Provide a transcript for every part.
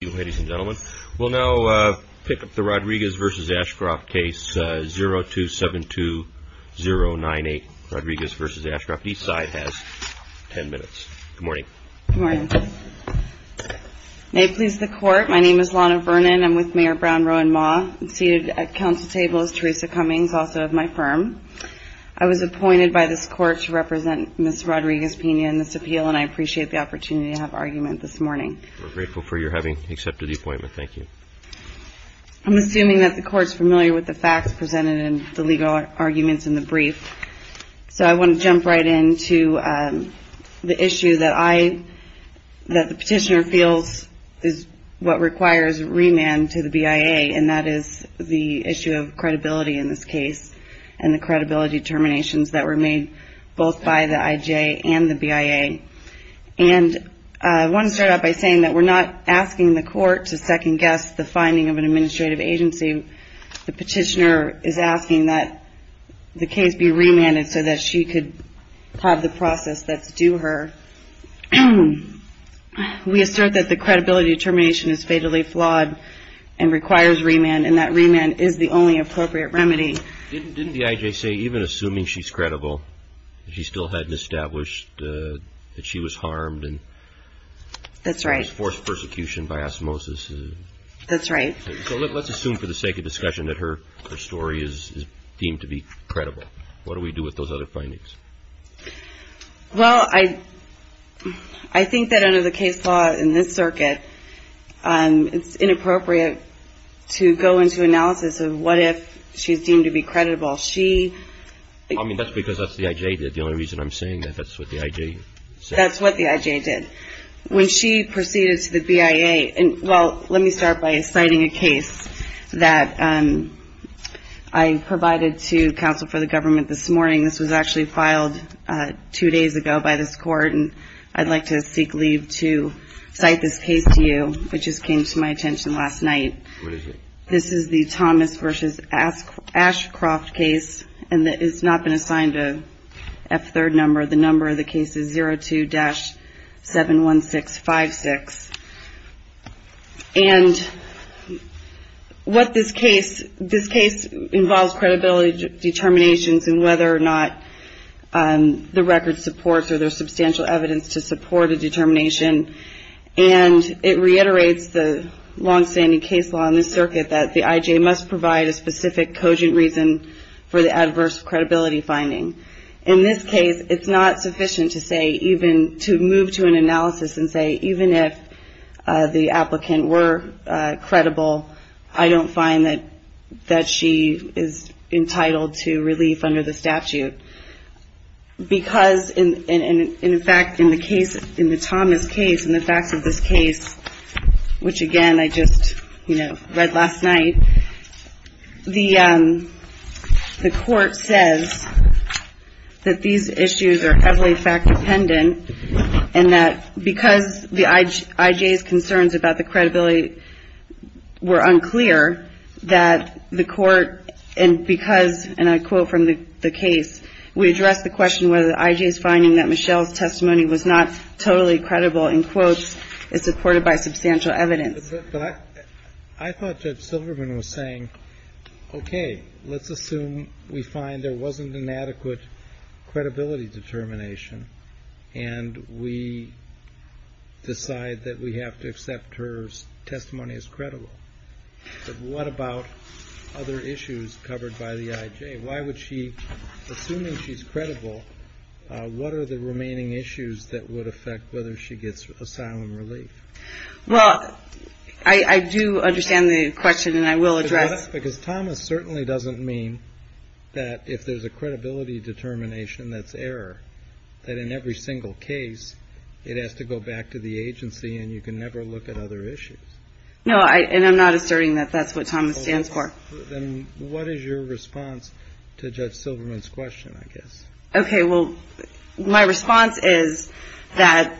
Ladies and gentlemen, we'll now pick up the Rodriguez v. Ashcroft case, 0272098, Rodriguez v. Ashcroft. Each side has 10 minutes. Good morning. Good morning. May it please the Court, my name is Lana Vernon. I'm with Mayor Brown, Roe and Maugh. Seated at Council table is Teresa Cummings, also of my firm. I was appointed by this Court to represent Ms. Rodriguez Pena in this appeal, and I appreciate the opportunity to have argument this morning. We're grateful for your having accepted the appointment. Thank you. I'm assuming that the Court's familiar with the facts presented in the legal arguments in the brief, so I want to jump right into the issue that I, that the Petitioner feels is what requires remand to the BIA, and that is the issue of credibility in this case, and the credibility determinations that were made both by the IJ and the BIA. And I want to start out by saying that we're not asking the Court to second-guess the finding of an administrative agency. The Petitioner is asking that the case be remanded so that she could have the process that's due her. We assert that the credibility determination is fatally flawed and requires remand, and that remand is the only appropriate remedy. Didn't the IJ say, even assuming she's credible, that she still hadn't established that she was harmed? That's right. She was forced persecution by osmosis. That's right. So let's assume, for the sake of discussion, that her story is deemed to be credible. What do we do with those other findings? Well, I think that under the case law in this circuit, it's inappropriate to go into analysis of what if she's deemed to be credible. She... I mean, that's because that's what the IJ did. The only reason I'm saying that, that's what the IJ said. That's what the IJ did. When she proceeded to the BIA, and, well, let me start by citing a case that I provided to counsel for the government this morning. This was actually filed two days ago by this court, and I'd like to seek leave to cite this case to you. It just came to my attention last night. What is it? This is the Thomas v. Ashcroft case, and it's not been assigned a F-3rd number. The number of the case is 02-71656. And what this case... This case involves credibility determinations in whether or not the record supports or there's substantial evidence to support a determination, and it reiterates the longstanding case law in this circuit that the IJ must provide a to move to an analysis and say, even if the applicant were credible, I don't find that she is entitled to relief under the statute. Because, in fact, in the case, in the Thomas case, in the facts of this case, which, again, I just, you know, read last night, the court says that these issues are heavily fact-dependent and that because the IJ's concerns about the credibility were unclear, that the court, and because, and I quote from the case, we address the question whether the IJ's finding that Michelle's testimony was not totally credible, in quotes, is supported by substantial evidence. But I thought Judge Silverman was saying, okay, let's assume we find there wasn't an adequate credibility determination, and we decide that we have to accept her testimony as credible. But what about other issues covered by the IJ? Why would she, assuming she's credible, what are the remaining issues that would affect whether she gets asylum relief? Well, I do understand the question, and I will address Because Thomas certainly doesn't mean that if there's a credibility determination that's error, that in every single case, it has to go back to the agency, and you can never look at other issues. No, and I'm not asserting that that's what Thomas stands for. Then what is your response to Judge Silverman's question, I guess? Okay, well, my response is that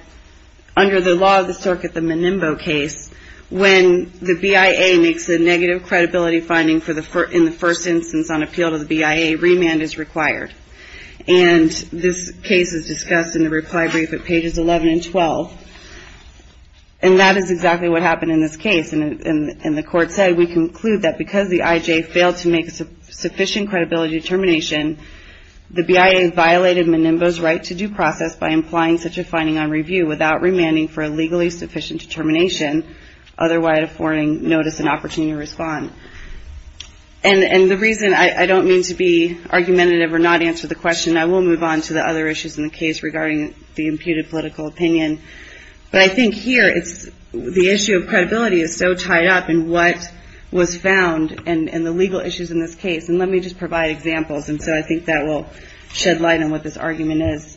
under the law of the circuit, the Menimbo case, when the BIA makes a negative credibility finding in the first instance on appeal to the BIA, remand is required. And this case is discussed in the reply brief at pages 11 and 12. And that is exactly what happened in this case. And the court said, we conclude that because the IJ failed to make a sufficient credibility determination, the BIA violated Menimbo's right to due process by implying such a finding on review without remanding for a legally sufficient determination, otherwise affording notice and opportunity to respond. And the reason I don't mean to be argumentative or not answer the question, I will move on to the other issues in the case regarding the imputed political opinion. But I think here, the issue of credibility is so tied up in what was found and the legal issues in this case. And let me just provide examples. And so I think that will shed light on what this argument is.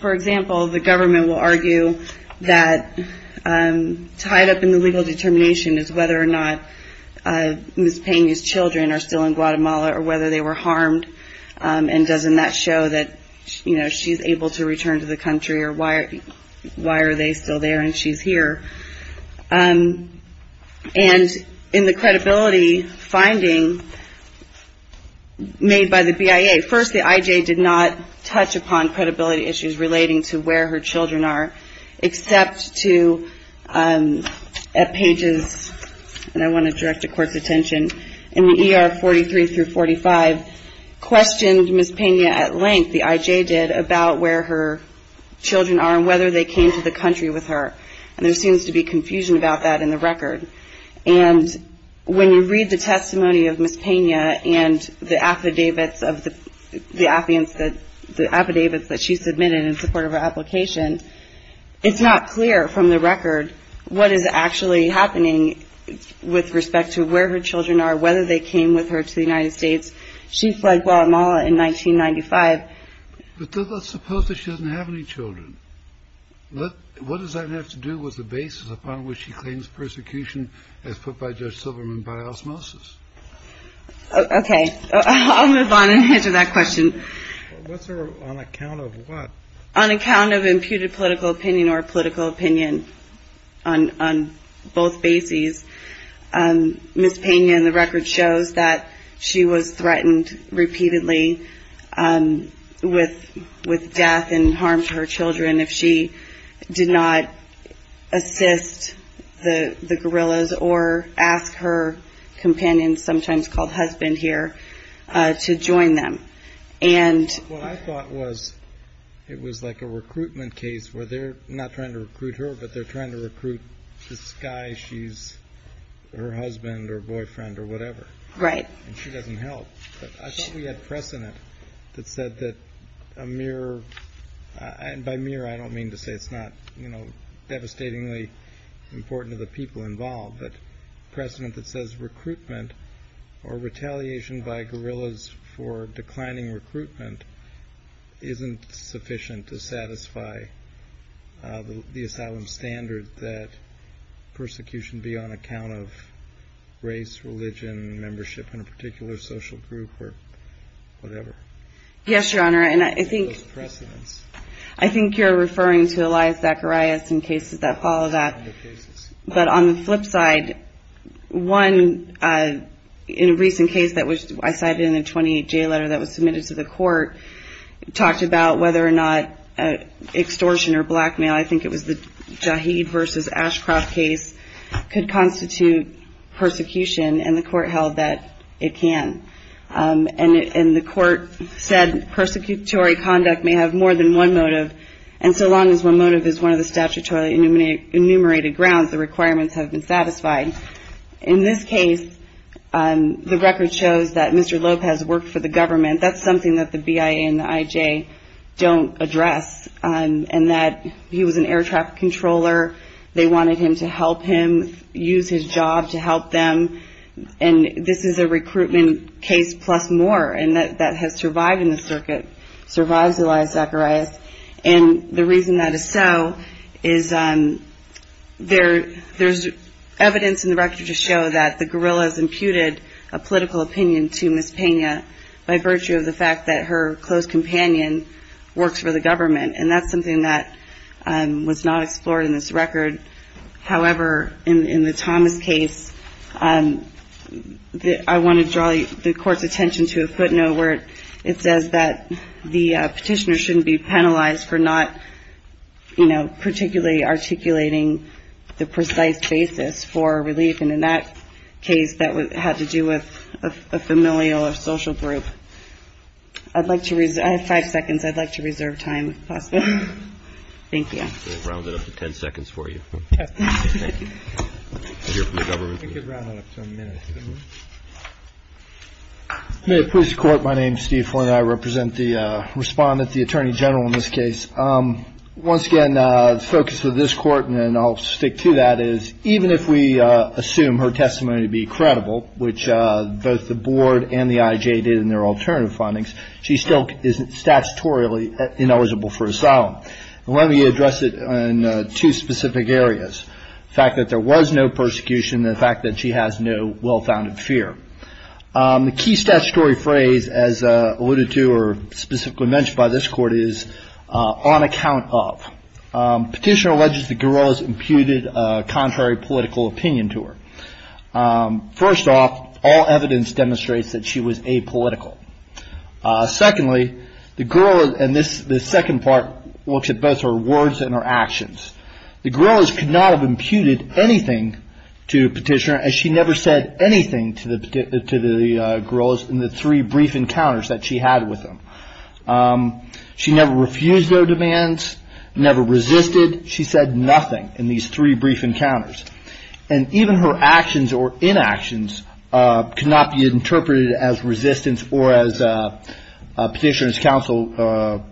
For example, the government will argue that tied up in the legal determination is whether or not Ms. Peña's children are still in Guatemala or whether they were harmed. And doesn't that show that, you know, she's able to return to the country or why are they still there and she's here? And in the credibility finding made by the BIA, first, the IJ did not touch upon credibility issues relating to where her children are, except to, at pages, and I want to direct the Court's attention, in the ER 43 through 45, questioned Ms. Peña at length, the IJ did, about where her children are and whether they came to the country with her. And there seems to be confusion about that in the record. And when you read the testimony of Ms. Peña and the affidavits of the, the affidavits that she submitted in support of her application, it's not clear from the record what is actually happening with respect to where her children are, whether they came with her to the United States. She fled Guatemala in 1995. But let's suppose that she doesn't have any children. What does that have to do with the basis upon which she claims persecution as put by Judge Silverman by osmosis? Okay. I'll move on and answer that question. What's her, on account of what? On account of imputed political opinion or political opinion on, on both bases, Ms. Peña in the record shows that she was threatened repeatedly with, with death and harmed her children if she did not assist the, the guerrillas or ask her companions, sometimes called husband here, to join them. And what I thought was, it was like a recruitment case where they're not trying to recruit her, but they're trying to recruit this guy. She's her husband or boyfriend or whatever. Right. And she doesn't help. But I thought we had precedent that said that a mere, and by mere I don't mean to say it's not, you know, devastatingly important to the people involved, but precedent that says recruitment or retaliation by guerrillas for declining recruitment isn't sufficient to satisfy the asylum standard that persecution be on account of race, religion, membership in a particular social group or whatever. Yes, Your Honor. And I think, I think you're referring to Elias Zacharias and cases that on the flip side, one in a recent case that was, I cited in a 28-J letter that was submitted to the court talked about whether or not extortion or blackmail, I think it was the Jaheed versus Ashcroft case, could constitute persecution and the court held that it can. And the court said persecutory conduct may have more than one motive. And so long as one motive is one that has been satisfied. In this case, the record shows that Mr. Lopez worked for the government. That's something that the BIA and the IJ don't address. And that he was an air traffic controller. They wanted him to help him use his job to help them. And this is a recruitment case plus more. And that has survived in the circuit, survives Elias Zacharias. And the reason that is so is there, there's evidence in the record to show that the guerrillas imputed a political opinion to Ms. Pena by virtue of the fact that her close companion works for the government. And that's something that was not explored in this record. However, in the Thomas case, I want to draw the court's attention to a case where the petitioner shouldn't be penalized for not, you know, particularly articulating the precise basis for relief. And in that case, that had to do with a familial or social group. I'd like to, I have five seconds. I'd like to reserve time if possible. Thank you. We'll round it up to ten seconds for you. May it please the court. My name is Steve Flynn. I represent the respondent, the attorney general in this case. Once again, the focus of this court, and I'll stick to that, is even if we assume her testimony to be credible, which both the board and the IJ did in their alternative findings, she still is statutorily ineligible for asylum. Let me address it in two specific areas. The fact that there was no persecution and the fact that she has no well-founded fear. The key statutory phrase, as alluded to or specifically mentioned by this court, is, on account of. Petitioner alleges the gorilla's imputed contrary political opinion to her. First off, all evidence demonstrates that she was apolitical. Secondly, the gorilla, and this second part looks at both her words and her actions. The gorilla's could not have imputed anything to petitioner as she never said anything to the gorilla's in the three brief encounters that she had with them. She never refused their demands, never resisted. She said nothing in these three brief encounters. Even her actions or as petitioner's counsel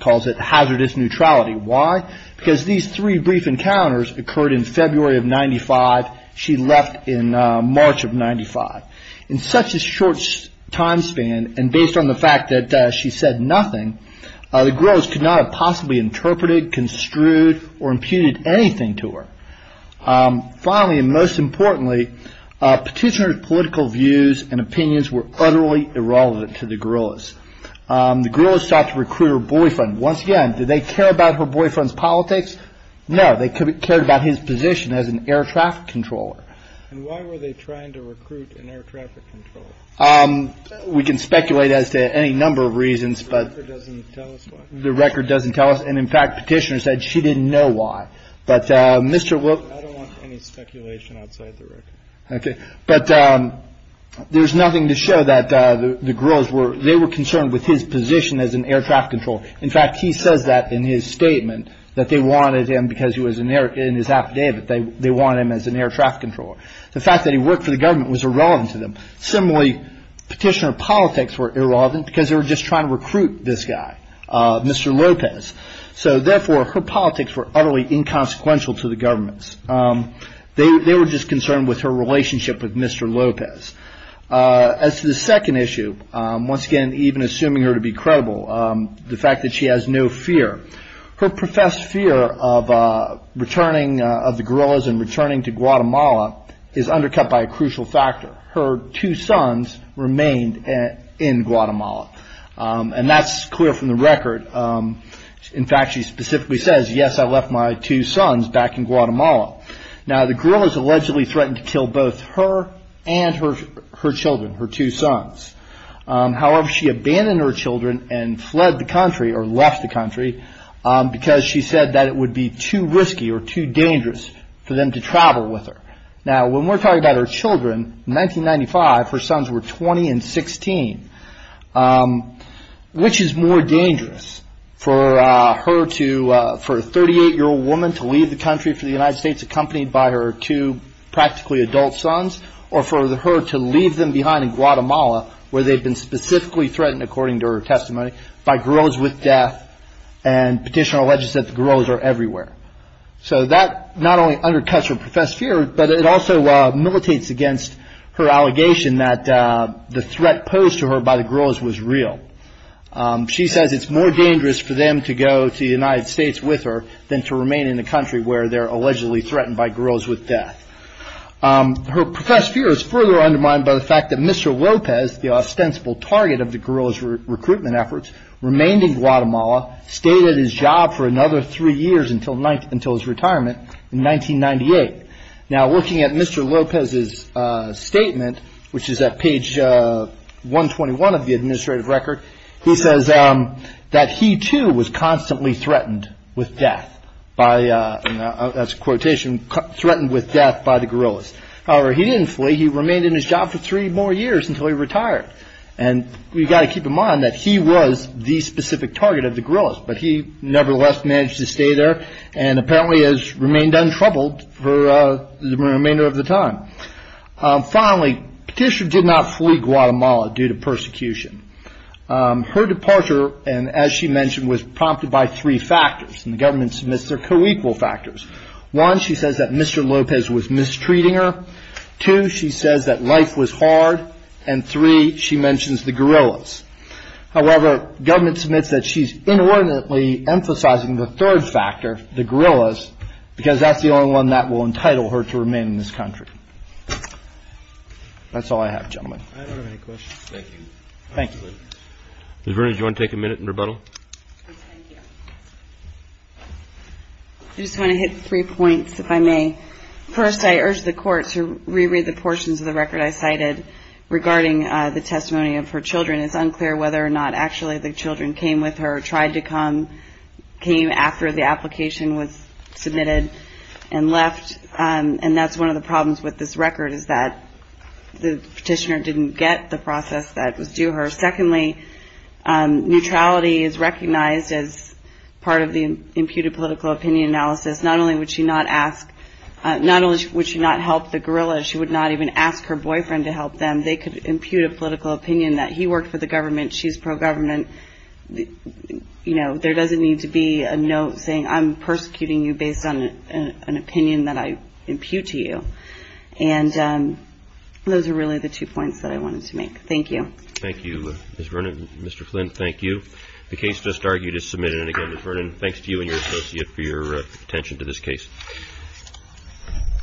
calls it, hazardous neutrality. Why? Because these three brief encounters occurred in February of 95. She left in March of 95. In such a short time span and based on the fact that she said nothing, the gorilla's could not have possibly interpreted, construed, or imputed anything to her. Finally, and most importantly, petitioner's political views and opinions were utterly irrelevant to the gorilla's. The gorilla's sought to recruit her boyfriend. Once again, did they care about her boyfriend's politics? No, they cared about his position as an air traffic controller. And why were they trying to recruit an air traffic controller? We can speculate as to any number of reasons, but the record doesn't tell us. And in fact, petitioner said she didn't know why. But Mr. Wilk... I don't There's nothing to show that the gorilla's were... they were concerned with his position as an air traffic controller. In fact, he says that in his statement that they wanted him because he was in his affidavit. They wanted him as an air traffic controller. The fact that he worked for the government was irrelevant to them. Similarly, petitioner's politics were irrelevant because they were just trying to recruit this guy, Mr. Lopez. So therefore, her politics were utterly inconsequential to the government's. They were just concerned with her relationship with Mr. Lopez. As to the second issue, once again, even assuming her to be credible, the fact that she has no fear. Her professed fear of returning of the gorillas and returning to Guatemala is undercut by a crucial factor. Her two sons remained in Guatemala. And that's clear from the record. In fact, she specifically says, yes, I left my two sons back in Guatemala. Now, the gorillas allegedly threatened to kill both her and her children, her two sons. However, she abandoned her children and fled the country or left the country because she said that it would be too risky or too dangerous for them to travel with her. Now, when we're talking about her children, in 1995, her sons were 20 and 16, which is more dangerous for her to, for a 38-year-old woman to leave the country for the United States accompanied by her two practically adult sons or for her to leave them behind in Guatemala where they've been specifically threatened, according to her testimony, by gorillas with death and petitioner alleges that the gorillas are everywhere. So that not only undercuts her professed fear, but it also militates against her allegation that the threat posed to her by the gorillas was real. She says it's more dangerous for them to go to the United States with her than to remain in a country where they're allegedly threatened by gorillas with death. Her professed fear is further undermined by the fact that Mr. Lopez, the ostensible target of the gorillas recruitment efforts, remained in Guatemala, stayed at his job for another three years until his retirement in 1998. Now, looking at Mr. Lopez's statement, which is at page 121 of the administrative record, he says that he too was constantly threatened with death by, that's a quotation, threatened with death by the gorillas. However, he didn't flee. He remained in his job for three more years until he retired. And we've got to keep in mind that he was the specific target of the gorillas, but he nevertheless managed to stay there and apparently has remained untroubled for the remainder of the time. Finally, Patricia did not flee Guatemala due to persecution. Her departure, as she mentioned, was prompted by three factors, and the government submits their co-equal factors. One, she says that Mr. Lopez was mistreating her. Two, she says that life was hard. And three, she mentions the gorillas. However, government submits that she's inordinately emphasizing the third factor, the gorillas, because that's the only one that will entitle her to remain in this country. That's all I have, gentlemen. I don't have any questions. Thank you. Thank you. Ms. Berners, do you want to take a minute in rebuttal? I just want to hit three points, if I may. First, I urge the Court to reread the portions of the record I cited regarding the testimony of her children. It's unclear whether or not actually the children came with her, tried to come, came after the application was submitted, and left. And that's one of the problems with this record, is that the petitioner didn't get the process that was due her. Secondly, neutrality is recognized as part of the imputed political opinion analysis. Not only would she not ask, not only would she not help the gorillas, she would not even ask her boyfriend to help them. They could the government. She's pro-government. There doesn't need to be a note saying, I'm persecuting you based on an opinion that I impute to you. And those are really the two points that I wanted to make. Thank you. Thank you, Ms. Vernon. Mr. Flynn, thank you. The case just argued is submitted. And again, Ms. Vernon, thanks to you and your associate for your attention to this case.